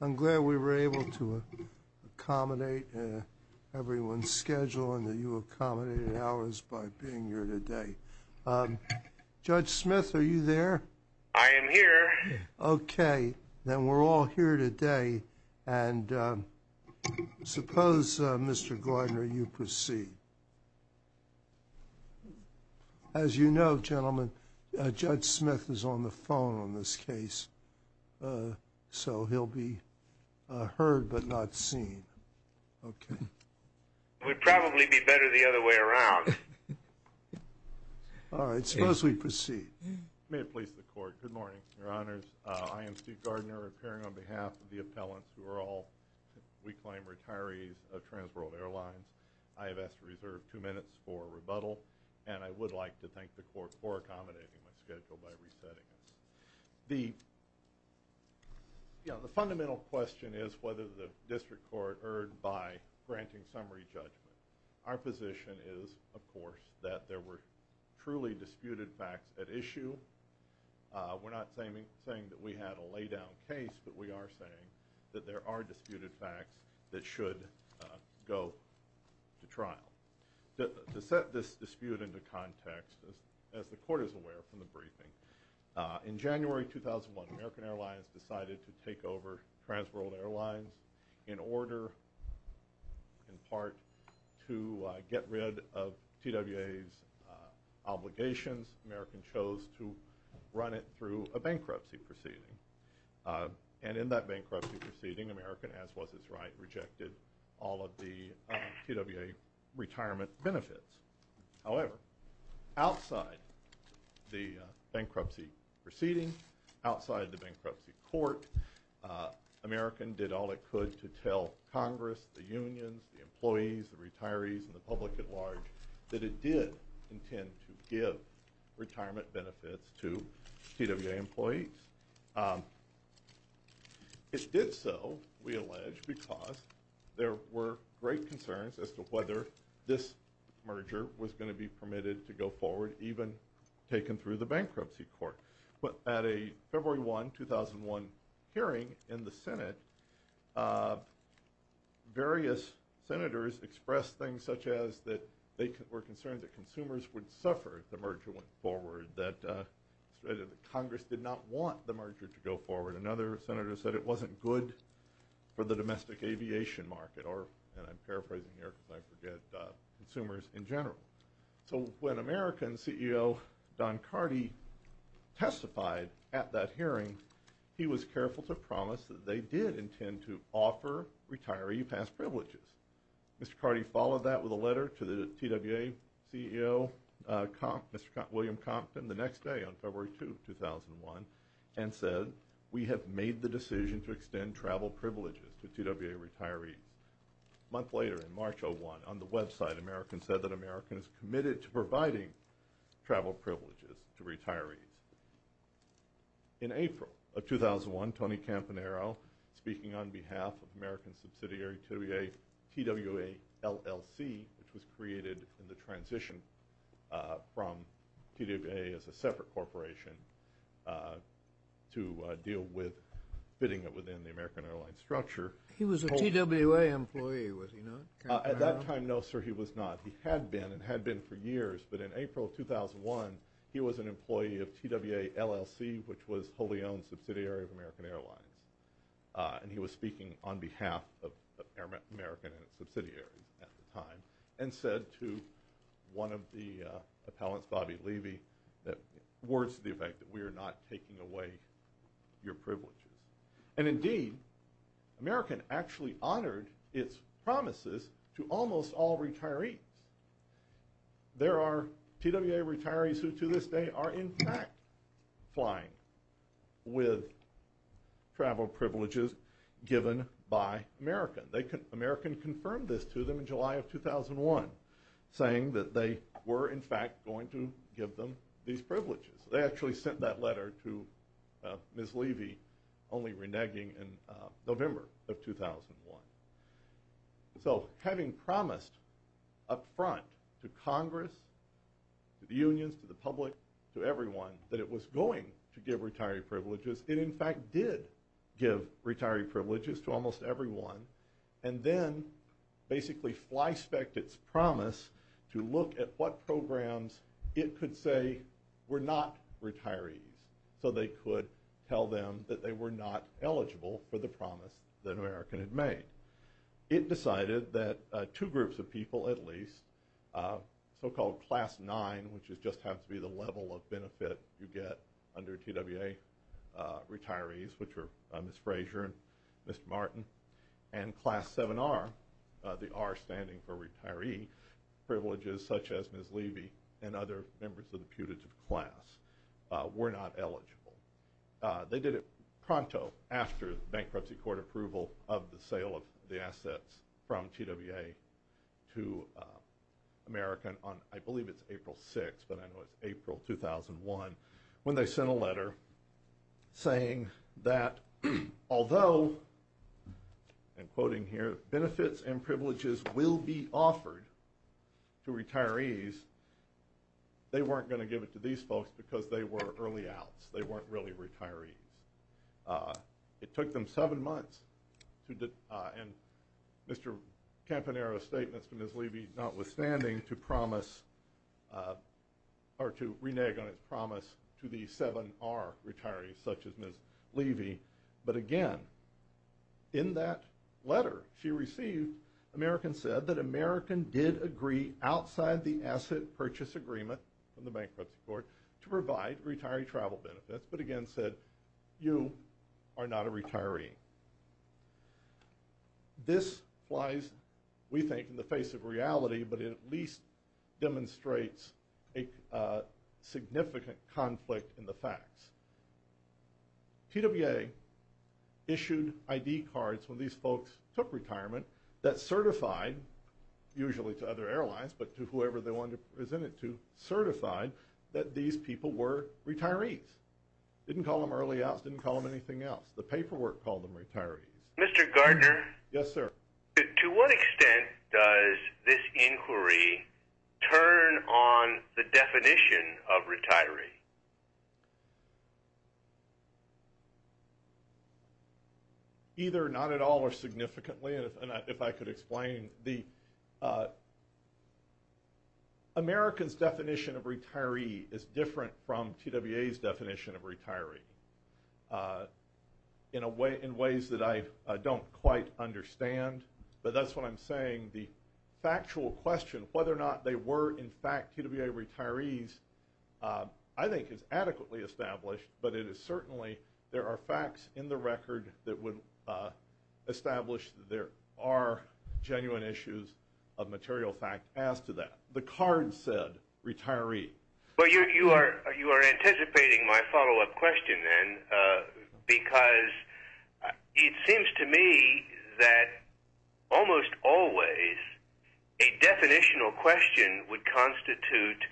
I'm glad we were able to accommodate everyone's schedule and that you accommodated ours by being here today. Judge Smith are you there? I am here. Okay then we're all here today and suppose Mr. Gardner you proceed. As you know gentlemen Judge Smith is on the phone on this case so he'll be heard but not seen. Okay. It would probably be better the other way around. All right suppose we proceed. May it please the court good morning your honors I am Steve Gardner appearing on behalf of the appellants who are all we claim retirees of Transworld Airlines. I have asked to reserve two minutes for rebuttal and I would like to thank the court for accommodating my schedule by resetting it. The you know the fundamental question is whether the district court erred by granting summary judgment. Our position is of course that there were truly disputed facts at issue. We're not saying saying that we had a laydown case but we are saying that there are disputed facts that should go to trial. To set this dispute into context as the court is aware from the briefing in January 2001 American Airlines decided to take over Transworld Airlines in order in part to get rid of TWA's obligations. American chose to run it through a bankruptcy proceeding and in that bankruptcy proceeding American as was his right rejected all of the TWA retirement benefits. However outside the bankruptcy proceeding outside the bankruptcy court American did all it could to tell Congress, the unions, the employees, the retirees, and the public at large that it did intend to give retirement benefits to TWA employees. It did so we allege because there were great concerns as to whether this merger was going to be permitted to go forward even taken through the bankruptcy court. But at a February 1 2001 hearing in the Senate various senators expressed things such as that they were concerned that consumers would suffer if the merger went forward. That Congress did not want the merger to go forward. Another senator said it wasn't good for the domestic aviation market or and I'm paraphrasing here because I forget consumers in general. So when American CEO Don Carty testified at that hearing he was careful to promise that they did intend to offer retiree past privileges. Mr. Carty followed that with a letter to the TWA CEO William Compton the next day on February 2 2001 and said we have made the decision to extend travel privileges to TWA retirees. A month later in March of one on the website American said that American is committed to providing travel privileges to retirees. In April of 2001 Tony Campanaro speaking on behalf of American subsidiary TWA LLC which was created in the transition from TWA as a separate corporation to deal with fitting it within the American Airlines structure. He was a TWA employee was he not? At that time no sir he was not. He had been and had been for years but in April 2001 he was an employee of TWA LLC which was wholly owned subsidiary of American Airlines and he was speaking on behalf of one of the appellants Bobby Levy that words to the effect that we are not taking away your privileges. And indeed American actually honored its promises to almost all retirees. There are TWA retirees who to this day are in fact flying with travel privileges given by American. American confirmed this to them in July of 2001 saying that they were in fact going to give them these privileges. They actually sent that letter to Ms. Levy only reneging in November of 2001. So having promised up front to Congress, to the unions, to the public, to everyone that it was going to give retiree privileges it in fact did give retiree privileges to almost everyone and then basically fly spec'd its promise to look at what programs it could say were not retirees. So they could tell them that they were not eligible for the promise that American had made. It decided that two groups of people at least so-called class nine which is just have to be the level of and class seven are the are standing for retiree privileges such as Ms. Levy and other members of the putative class were not eligible. They did it pronto after bankruptcy court approval of the sale of the assets from TWA to American on I believe it's April 6 but I know it's April 2001 when they sent a letter saying that although and quoting here benefits and privileges will be offered to retirees they weren't going to give it to these folks because they were early outs. They weren't really retirees. It took them seven months to do and Mr. Campanaro statements from Ms. Levy notwithstanding to promise or to renege on its promise to the seven are retirees such as Ms. Levy but again in that letter she received American said that American did agree outside the asset purchase agreement from the bankruptcy court to provide retiree travel benefits but again said you are not a retiree. This flies we think in the face of significant conflict in the facts. TWA issued ID cards when these folks took retirement that certified usually to other airlines but to whoever they want to present it to certified that these people were retirees. Didn't call them early outs. Didn't call them anything else. The paperwork called them retirees. Mr. Gardner. Yes sir. To what extent does this inquiry turn on the definition of retiree? Either not at all or significantly and if I could explain the Americans definition of retiree is different from TWA's definition of retiree. In a way in ways that I don't quite understand but that's what I'm saying. The factual question whether or not they were in fact TWA retirees I think is adequately established but it is certainly there are facts in the record that would establish there are genuine issues of material fact as to that. The card said retiree. But you are you are anticipating my follow-up question then because it seems to me that almost always a definitional question would constitute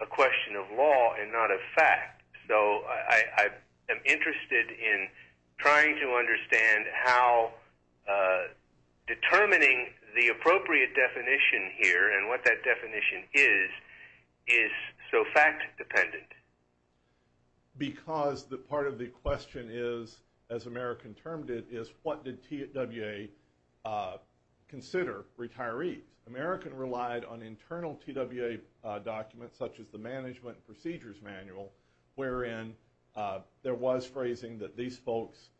a question of law and not a fact. So I am interested in trying to understand how determining the appropriate definition here and what that definition is is so fact dependent. Because the part of the question is as American termed it is what did TWA consider retirees. American relied on internal TWA documents such as the management procedures manual wherein there was phrasing that these folks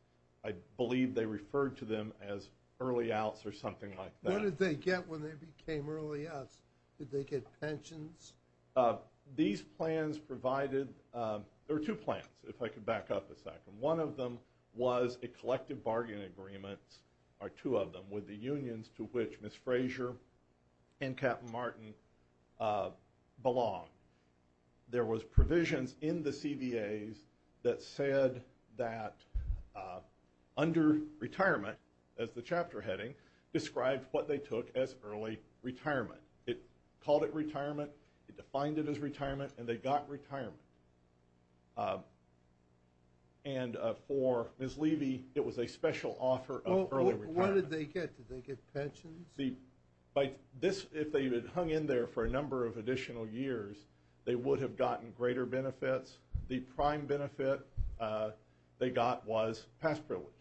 I believe they referred to them as early outs or something like that. What did they get when they became early outs? Did they get pensions? These plans provided there were two plans if I could back up a second. One of them was a collective bargaining agreement or two of them with the unions to which Miss Frazier and Captain Martin belong. There was provisions in the CBA's that said that under retirement as the chapter heading described what they took as early retirement. It called it retirement. It defined it as retirement and they got retirement. And for Miss Levy it was a special offer of early retirement. What did they get? Did they get pensions? If they had hung in there for a number of additional years they would have gotten greater benefits. The prime benefit they got was past privileges.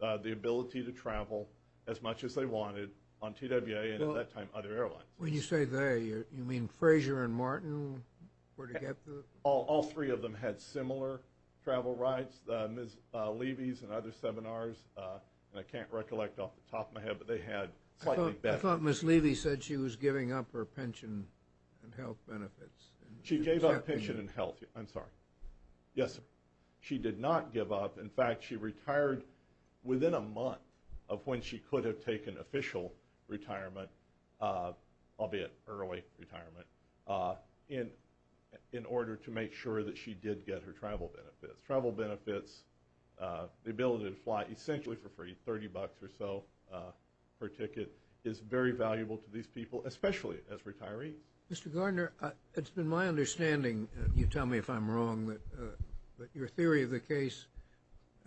The ability to travel as much as they wanted on TWA and at that time other airlines. When you say they you mean Frazier and Martin? All three of them had similar travel rights. Miss Levy's and other seminars and I can't recollect off the top of my head but they had slightly better. I thought Miss Levy said she was giving up her pension and health benefits. She gave up pension and health. I'm sorry. Yes sir. She did not give up. In fact she retired within a month of when she could have taken official retirement albeit early retirement in order to make sure that she did get her travel benefits. Travel benefits the ability to fly essentially for free 30 bucks or so per ticket is very valuable to these people especially as retirees. Mr. Gardner it's been my understanding you tell me if I'm wrong that your theory of the case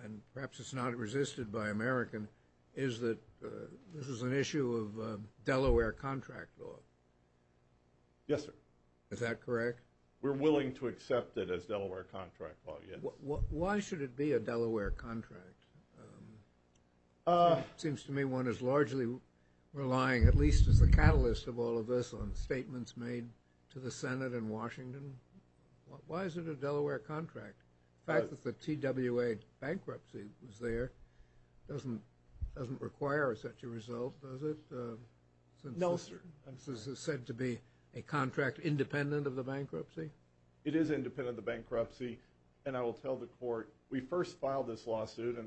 and perhaps it's not resisted by American is that this is an issue of Delaware contract law. Yes sir. Is that correct? We're willing to accept it as Delaware contract law. Why should it be a Delaware contract? Seems to me one is largely relying at least as a catalyst of all of this on statements made to the Senate and Washington. Why is it a Delaware contract? The fact that the TWA bankruptcy was there doesn't doesn't require such a result does it? No sir. This is said to be a contract independent of the bankruptcy? It is independent of the bankruptcy and I will tell the court we first filed this the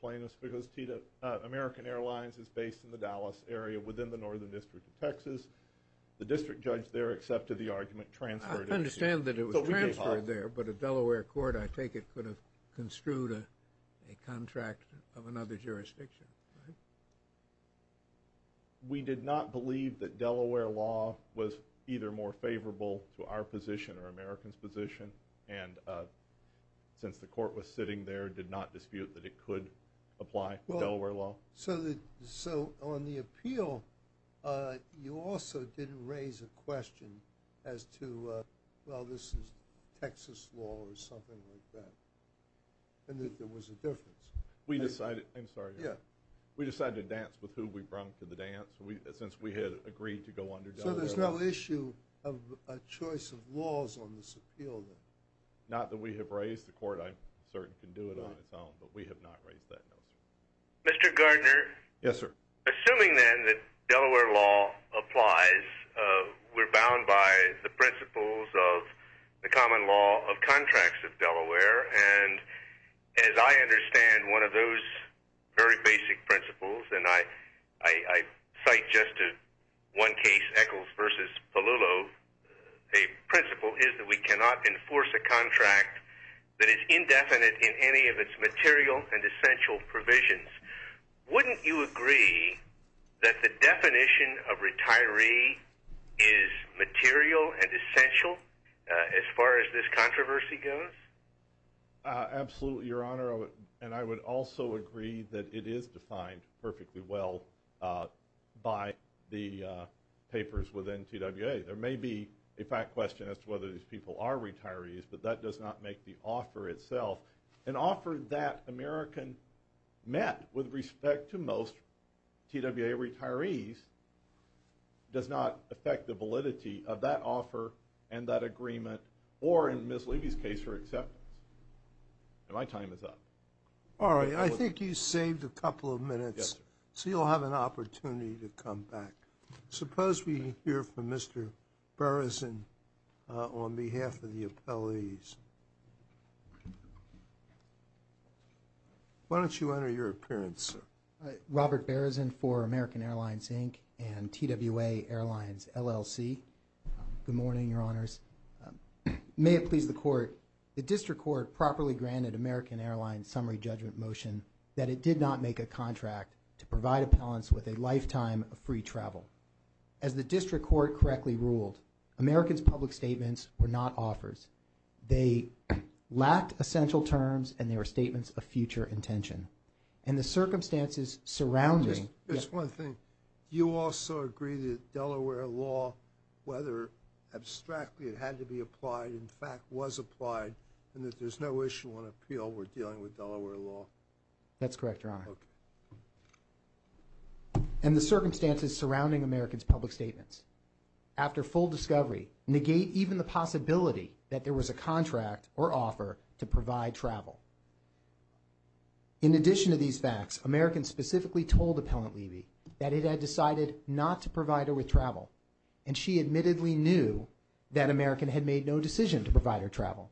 plaintiffs because TWA American Airlines is based in the Dallas area within the northern district of Texas. The district judge there accepted the argument transferred. I understand that it was transferred there but a Delaware court I take it could have construed a contract of another jurisdiction. We did not believe that Delaware law was either more favorable to our position or Americans position and since the court was sitting there did not dispute that apply Delaware law. So on the appeal you also didn't raise a question as to well this is Texas law or something like that and that there was a difference. We decided I'm sorry yeah we decided to dance with who we brung to the dance we since we had agreed to go under. So there's no issue of a choice of laws on this appeal? Not that we have raised the court I'm certain can do it on its own but we have not raised that note. Mr. Gardner. Yes sir. Assuming then that Delaware law applies we're bound by the principles of the common law of contracts of Delaware and as I understand one of those very basic principles and I cite just one case Echols versus Palulo a principle is that we provisions. Wouldn't you agree that the definition of retiree is material and essential as far as this controversy goes? Absolutely your honor and I would also agree that it is defined perfectly well by the papers within TWA. There may be a fact question as to whether these people are retirees but that does not make the offer itself an offer that American met with respect to most TWA retirees does not affect the validity of that offer and that agreement or in Miss Levy's case for acceptance. My time is up. All right I think you saved a couple of minutes so you'll have an opportunity to come back. Suppose we hear from Mr. Bereson on behalf of the appellees. Why don't you enter your appearance? Robert Bereson for American Airlines Inc. and TWA Airlines LLC. Good morning your honors. May it please the court the district court properly granted American Airlines summary judgment motion that it did not make a contract to provide appellants with a lifetime of free travel. As the district court correctly ruled Americans public statements were not offers. They lacked essential terms and they were statements of future intention and the circumstances surrounding. Just one thing you also agree that Delaware law whether abstractly it had to be applied in fact was applied and that there's no issue on appeal we're dealing with Delaware law. That's correct your honor. And the circumstances surrounding Americans public statements after full discovery negate even the possibility that there was a contract or offer to provide travel. In addition to these facts Americans specifically told Appellant Levy that it had decided not to provide her with travel and she admittedly knew that American had made no decision to provide her travel.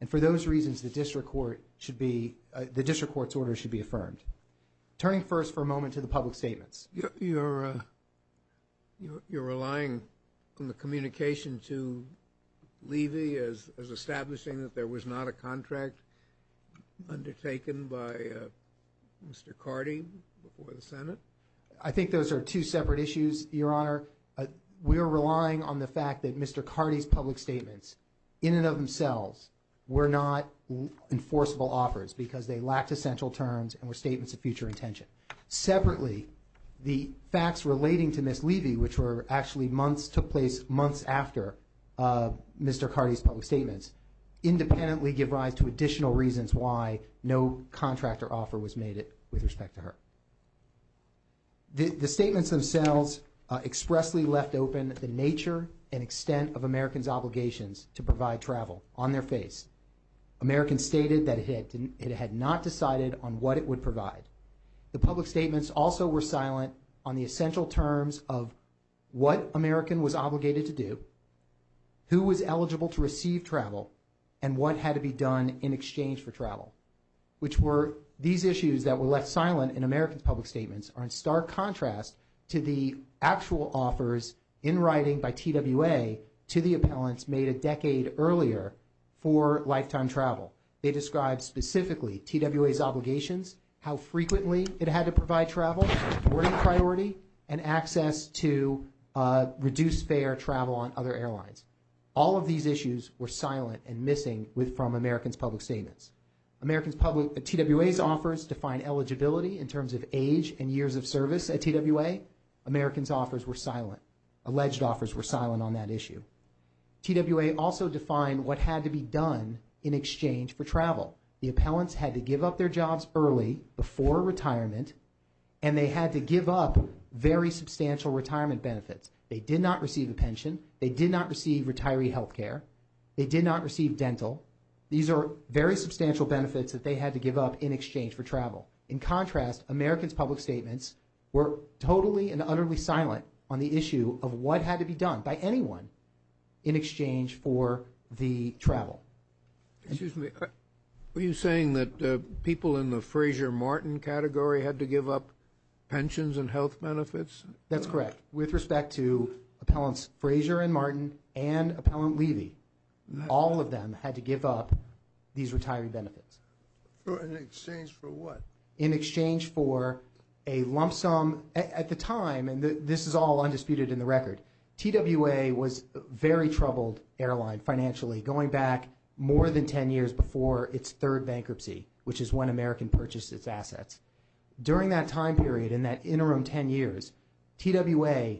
And for those reasons the district court should be the district court's order should be affirmed. Turning first for a moment to the public statements. You're relying on the communication to Levy as establishing that there was not a contract undertaken by Mr. Carty before the Senate. I think those are two separate issues your honor. We're relying on the fact that Mr. Carty's public statements themselves were not enforceable offers because they lacked essential terms and were statements of future intention. Separately the facts relating to Ms. Levy which were actually months took place months after Mr. Carty's public statements independently give rise to additional reasons why no contract or offer was made with respect to her. The statements themselves expressly left open the nature and extent of Americans obligations to provide travel on their face. Americans stated that it had not decided on what it would provide. The public statements also were silent on the essential terms of what American was obligated to do, who was eligible to receive travel, and what had to be done in exchange for travel. Which were these issues that were left American public statements are in stark contrast to the actual offers in writing by TWA to the appellants made a decade earlier for lifetime travel. They described specifically TWA's obligations, how frequently it had to provide travel, boarding priority, and access to reduce fare travel on other airlines. All of these issues were silent and missing with from Americans public statements. TWA's offers define eligibility in terms of age and years of service at TWA. Americans offers were silent. Alleged offers were silent on that issue. TWA also defined what had to be done in exchange for travel. The appellants had to give up their jobs early before retirement and they had to give up very substantial retirement benefits. They did not receive a pension. They did not receive retiree health care. They did not receive dental. These are very substantial benefits that they had to give up in exchange for travel. In contrast, Americans public statements were totally and utterly silent on the issue of what had to be done by anyone in exchange for the travel. Excuse me, are you saying that people in the Frazier-Martin category had to give up pensions and health benefits? That's correct. With respect to appellants Frazier and Martin and appellant Levy, all of them had to give up these retiree benefits. In exchange for what? In exchange for a lump sum at the time, and this is all undisputed in the record, TWA was a very troubled airline financially going back more than 10 years before its third bankruptcy, which is when American purchased its assets. During that time period, in that interim 10 years, TWA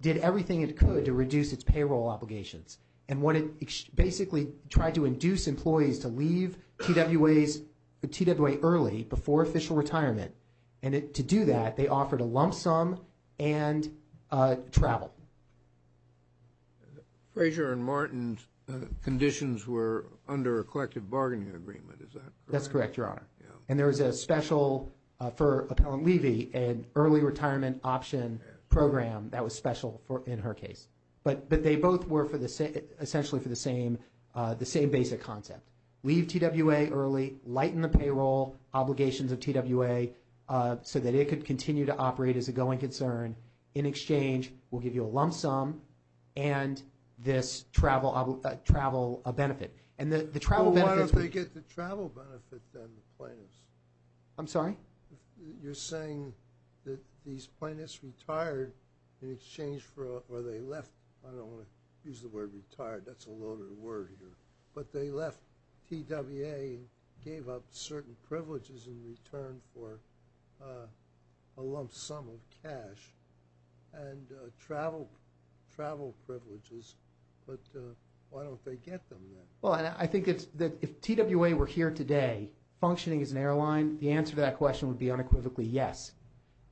did everything it could to reduce its payroll obligations and what it basically tried to induce employees to leave TWA early before official retirement, and to do that they offered a lump sum and travel. Frazier and Martin's conditions were under a collective bargaining agreement, is that correct? And there was a special for appellant Levy, an early retirement option program that was special in her case, but they both were essentially for the same basic concept. Leave TWA early, lighten the payroll obligations of TWA so that it could continue to operate as a going concern. In exchange, we'll give you a lump sum and this travel benefit. Well, why don't they get the travel benefit then, the plaintiffs? I'm sorry? You're saying that these plaintiffs retired in exchange for, or they left, I don't want to use the word retired, that's a loaded word here, but they left TWA and gave up certain privileges in return for a lump sum of cash and travel privileges, but why don't they get them then? I think that if TWA were here today functioning as an airline, the answer to that question would be unequivocally yes.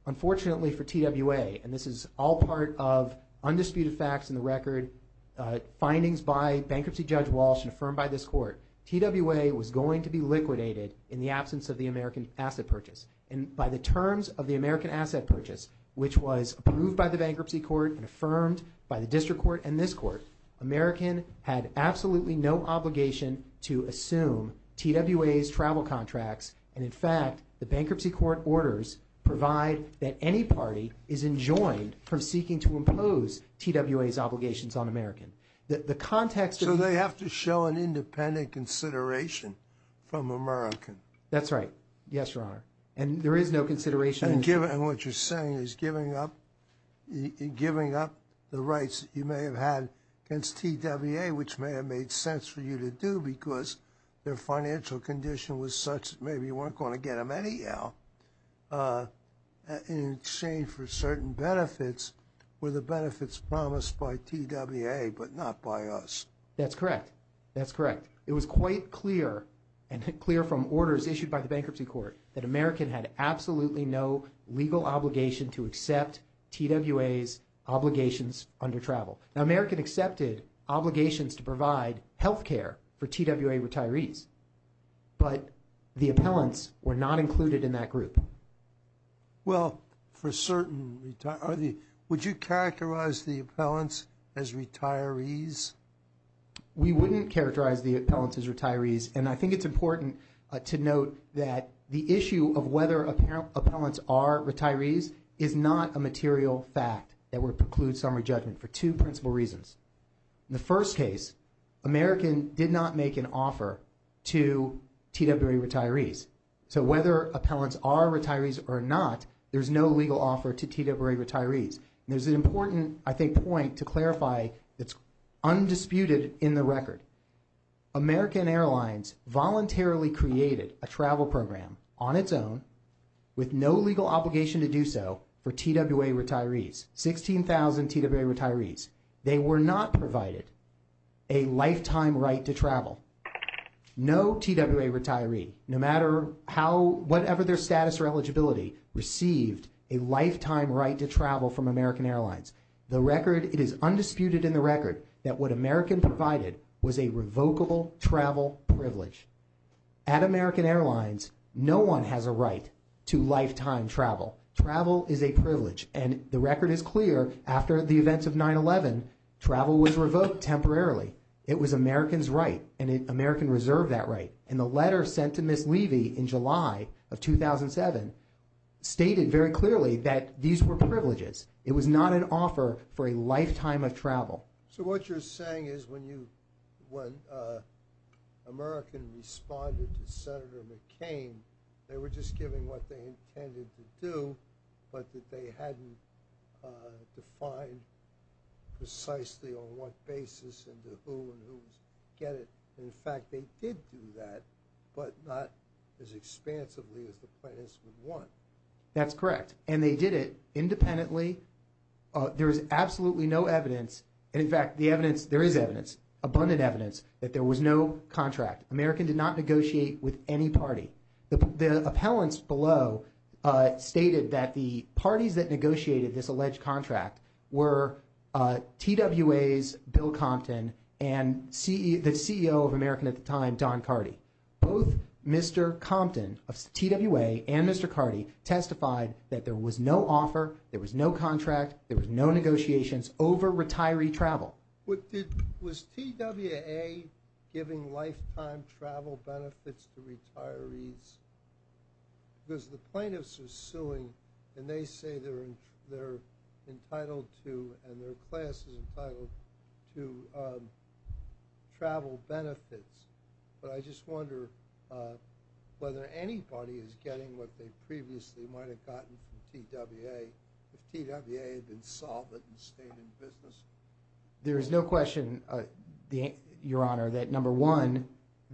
Unfortunately for TWA, and this is all part of undisputed facts in the record, findings by bankruptcy judge Walsh and affirmed by this court, TWA was going to be liquidated in the absence of the American asset purchase. And by the terms of the American asset purchase, which was approved by the bankruptcy court and affirmed by the district court and this court, American had absolutely no obligation to assume TWA's travel contracts. And in fact, the bankruptcy court orders provide that any party is enjoined from seeking to impose TWA's obligations on American. The context- So they have to show an independent consideration from American. That's right. Yes, Your Honor. And there is no consideration- And what you're saying is giving up the rights that you may have had against TWA, which may have made sense for you to do because their financial condition was such that maybe you weren't going to get them anyhow, in exchange for certain benefits, were the benefits promised by TWA, but not by us? That's correct. That's correct. It was quite clear and clear from orders issued by the bankruptcy court that American had absolutely no legal obligation to accept TWA's obligations under travel. Now, American accepted obligations to provide health care for TWA retirees, but the appellants were not included in that group. Well, for certain retirees, would you characterize the appellants as retirees? We wouldn't characterize the appellants as retirees. And I think it's important to note that the issue of whether appellants are retirees is not a material fact that would preclude summary judgment for two principal reasons. In the first case, American did not make an offer to TWA retirees. So whether appellants are retirees or not, there's no legal offer to TWA retirees. And there's an important, I think, point to clarify that's undisputed in the record. American Airlines voluntarily created a travel program on its own with no legal obligation to do so for TWA retirees, 16,000 TWA retirees. They were not provided a lifetime right to travel. No TWA retiree, no matter how, whatever their status or eligibility, received a lifetime right to travel from American Airlines. The record, it is undisputed in the record that what American provided was a revocable travel privilege. At American Airlines, no one has a right to lifetime travel. Travel is a privilege. And the record is clear after the events of 9-11, travel was revoked temporarily. It was American's right and American reserved that right. And the letter sent to Ms. Levy in July of 2007 stated very clearly that these were privileges. It was not an offer for a lifetime of travel. So what you're saying is when you, when American responded to Senator McCain, they were just giving what they intended to do, but that they hadn't defined precisely on what basis and to who and whose get it. And in fact, they did do that, but not as expansively as the plaintiffs would want. That's correct. And they did it independently. There is absolutely no evidence. And in fact, the evidence, there is evidence, abundant evidence that there was no contract. American did not negotiate with any party. The appellants below stated that the parties that negotiated this alleged contract were TWA's Bill Compton and the CEO of American at the time, Don Carty. Both Mr. Compton of TWA and Mr. Carty testified that there was no offer, there was no contract, there was no negotiations over retiree travel. Was TWA giving lifetime travel benefits to retirees? Because the plaintiffs are suing and they say they're entitled to and their class is entitled to travel benefits. But I just wonder whether anybody is getting what they previously might have gotten from TWA if TWA had been solvent and stayed in business. There is no question, Your Honor, that number one,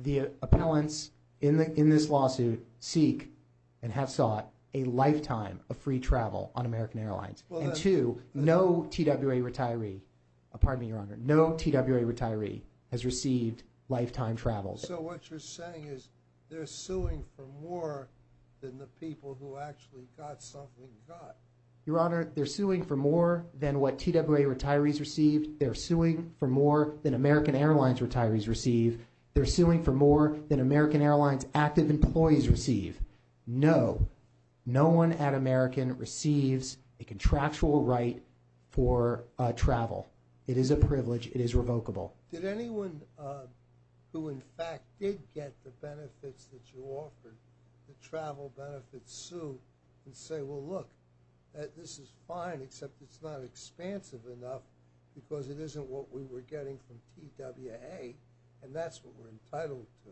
the appellants in this lawsuit seek and have sought a lifetime of free travel on American Airlines. And two, no TWA retiree, pardon me, Your Honor, no TWA retiree has received lifetime travel. So what you're saying is they're suing for more than the people who actually got something done. Your Honor, they're suing for more than what TWA retirees received. They're suing for more than American Airlines retirees receive. They're suing for more than American Airlines active employees receive. No, no one at American receives a contractual right for travel. It is a privilege. It is revocable. Did anyone who in fact did get the benefits that you offered to travel benefits sue and say, well, look, this is fine except it's not expansive enough because it isn't what we were getting from TWA and that's what we're entitled to?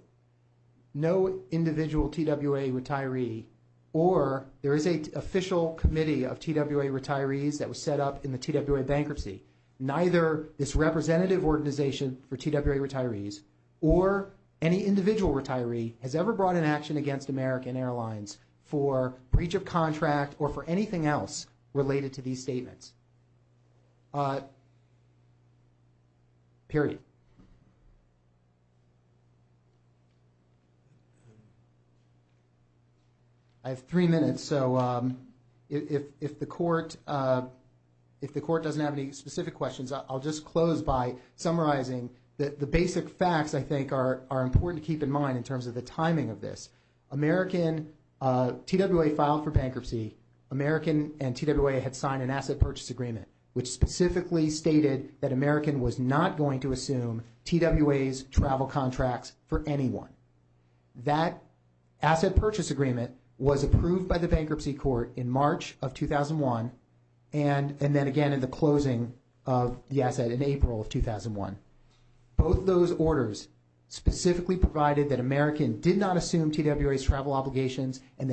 No individual TWA retiree or there is an official committee of TWA retirees that was set up in the bankruptcy. Neither this representative organization for TWA retirees or any individual retiree has ever brought an action against American Airlines for breach of contract or for anything questions. I'll just close by summarizing the basic facts I think are important to keep in mind in terms of the timing of this. TWA filed for bankruptcy. American and TWA had signed an asset purchase agreement, which specifically stated that American was not going to assume TWA's travel contracts for anyone. That asset purchase agreement was approved by the bankruptcy court in March of 2001 and then again in the closing of the asset in April of 2001. Both those orders specifically provided that American did not assume TWA's travel obligations and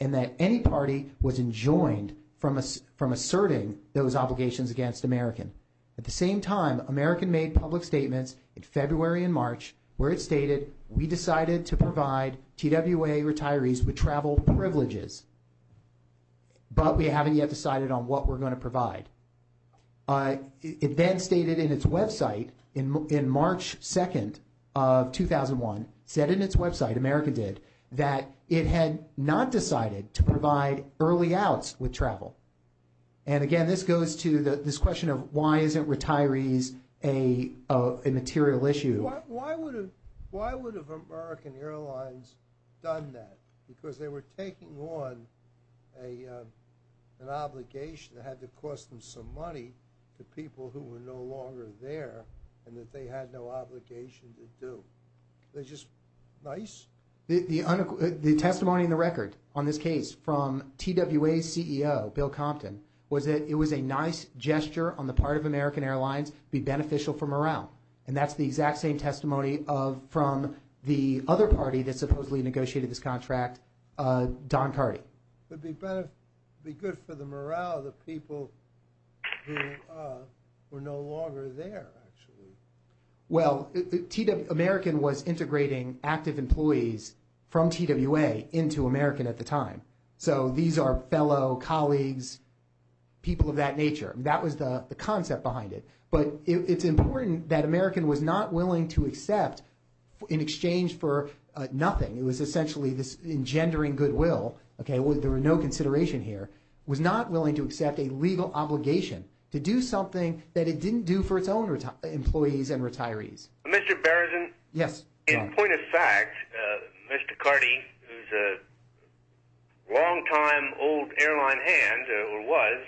that any party was enjoined from asserting those obligations against American. At the same time, American made public statements in February and March where it stated, we decided to provide TWA retirees with travel privileges, but we haven't yet decided on what we're going to provide. It then stated in its website in March 2nd of 2001, said in its website, America did, that it had not decided to provide early outs with travel. Again, this goes to this question of why isn't retirees a material issue? Why would have American Airlines done that? Because they were taking on an obligation that had to cost them some money to people who were no longer there and that they had no obligation to do. They're just nice? The testimony in the record on this case from TWA CEO Bill Compton was that it was a nice gesture on the part of American Airlines to be beneficial for morale. That's the exact same testimony from the other party that supposedly negotiated this contract, Don Cardy. It would be good for the morale of the people who were no longer there, actually. Well, American was integrating active employees from TWA into American at the time. So these are fellow colleagues, people of that nature. That was the concept behind it. But it's important that American was not willing to accept, in exchange for nothing, it was essentially this engendering goodwill. There were no consideration here. Was not willing to accept a legal obligation to do something that it didn't do for its own employees and retirees. Mr. Barrison, in point of fact, Mr. Cardy, who's a long time old airline hand, or was,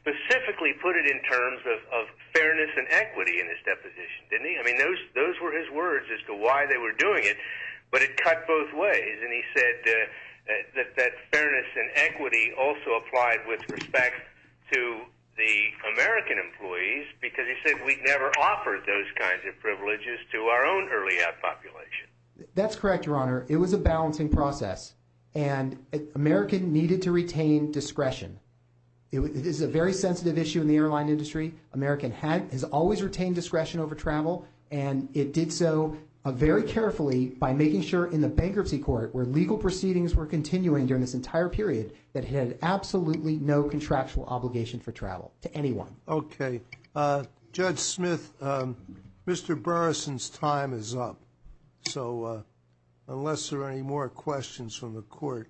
specifically put it in terms of fairness and equity in his deposition, didn't he? I mean, those were his words as to why they were doing it, but it cut both ways. And he said that fairness and equity also applied with respect to the American employees, because he said we'd never offered those kinds of privileges to our own early half population. That's correct, Your Honor. It was a balancing process, and American needed to retain discretion. It is a very sensitive issue in the airline industry. American has always retained discretion over travel, and it did so very carefully by making sure in the bankruptcy court, where legal proceedings were continuing during this entire period, that it had absolutely no contractual obligation for travel to anyone. Okay. Judge Smith, Mr. Barrison's time is up, so unless there are any more questions from the court,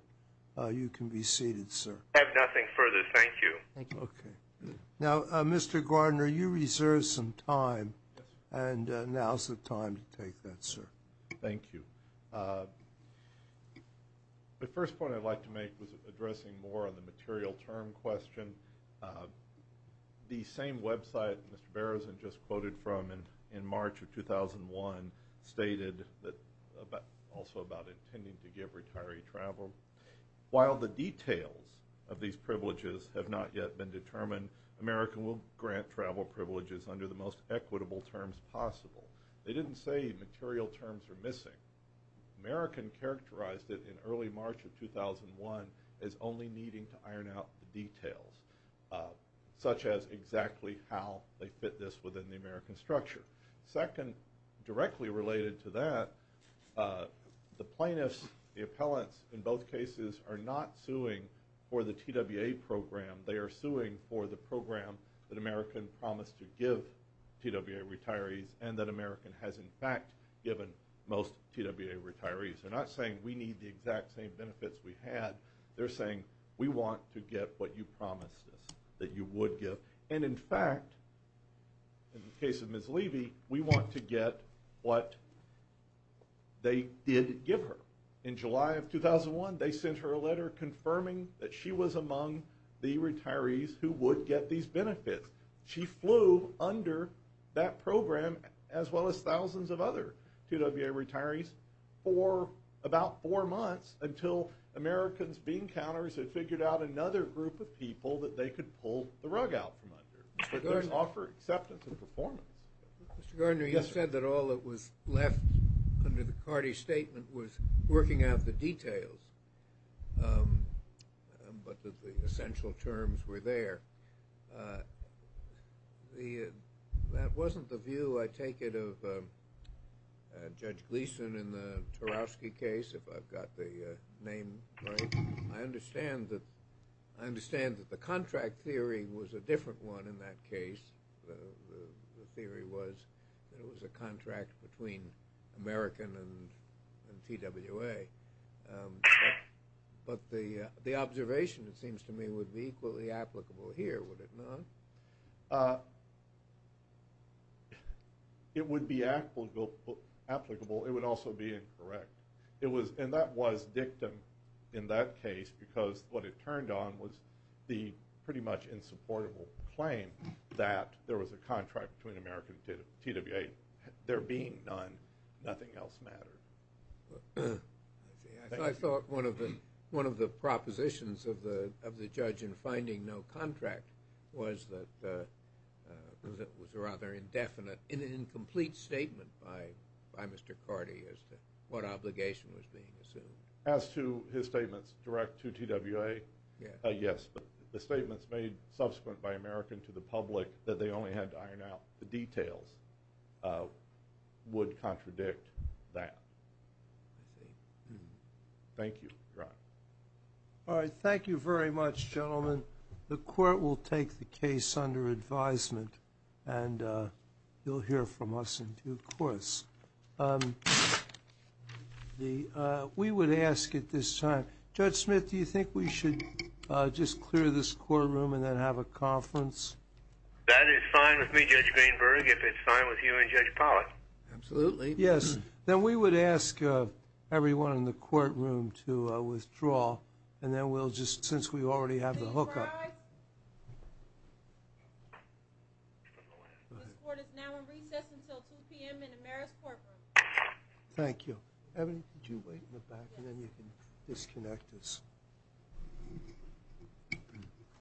you can be seated, sir. I have nothing further. Thank you. Thank you. Okay. Now, Mr. Gardner, you reserved some time, and now's the time to take that, sir. Thank you. The first point I'd like to make was addressing more on the material term question. The same website Mr. Barrison just quoted from in March of 2001 stated also about intending to give retiree travel. While the details of these privileges have not yet been determined, American will grant travel privileges under the most equitable terms possible. They didn't say material terms are missing. American characterized it in early March of 2001 as only needing to iron out the details, such as exactly how they fit this within the American structure. Second, directly related to that, the plaintiffs, the appellants, in both cases, are not suing for the TWA program. They are suing for the program that American promised to give TWA retirees and that American has in fact given most TWA retirees. They're not saying we need the exact same benefits we had. They're saying we want to get what you promised us that you would give. And in fact, in the case of Ms. Levy, we want to get what they did give her. In July of 2001, they sent her a letter confirming that she was among the retirees who would get these benefits. She flew under that program, as well as thousands of other TWA retirees, for about four months until Americans being counters had figured out another group of people that they could pull the rug out from under. But those offer acceptance and performance. Mr. Gardner, you said that all that was left under the Carty statement was working out the details, but that the essential terms were there. That wasn't the view, I take it, of Judge Gleeson in the Tarowski case, if I've got the name right. I understand that the contract theory was a different one in that case. The theory was that it was a contract between American and TWA. But the observation, it seems to me, would be equally applicable here, would it not? It would be applicable. It would also be incorrect. It was, and that was dictum in that case, because what it turned on was the pretty much insupportable claim that there was a contract between American and TWA. There being none, nothing else mattered. I thought one of the propositions of the judge in finding no contract was that it was a rather indefinite and incomplete statement by Mr. Carty as to what obligation was being assumed. As to his statements direct to TWA, yes, but the statements made subsequent by American to the public that they only had to iron out the details would contradict that. Thank you, Ron. All right, thank you very much, gentlemen. The court will take the case under advisement and you'll hear from us in due course. We would ask at this time, Judge Smith, do you think we should just clear this courtroom and then have a conference? That is fine with me, Judge Greenberg, if it's fine with you and Judge Pollack. Absolutely. Yes, then we would ask everyone in the courtroom to withdraw and then we'll just, since we already have the hookup. This court is now in recess until 2 p.m. in Amera's courtroom. Thank you. Evan, would you wait in the back and then you can disconnect us.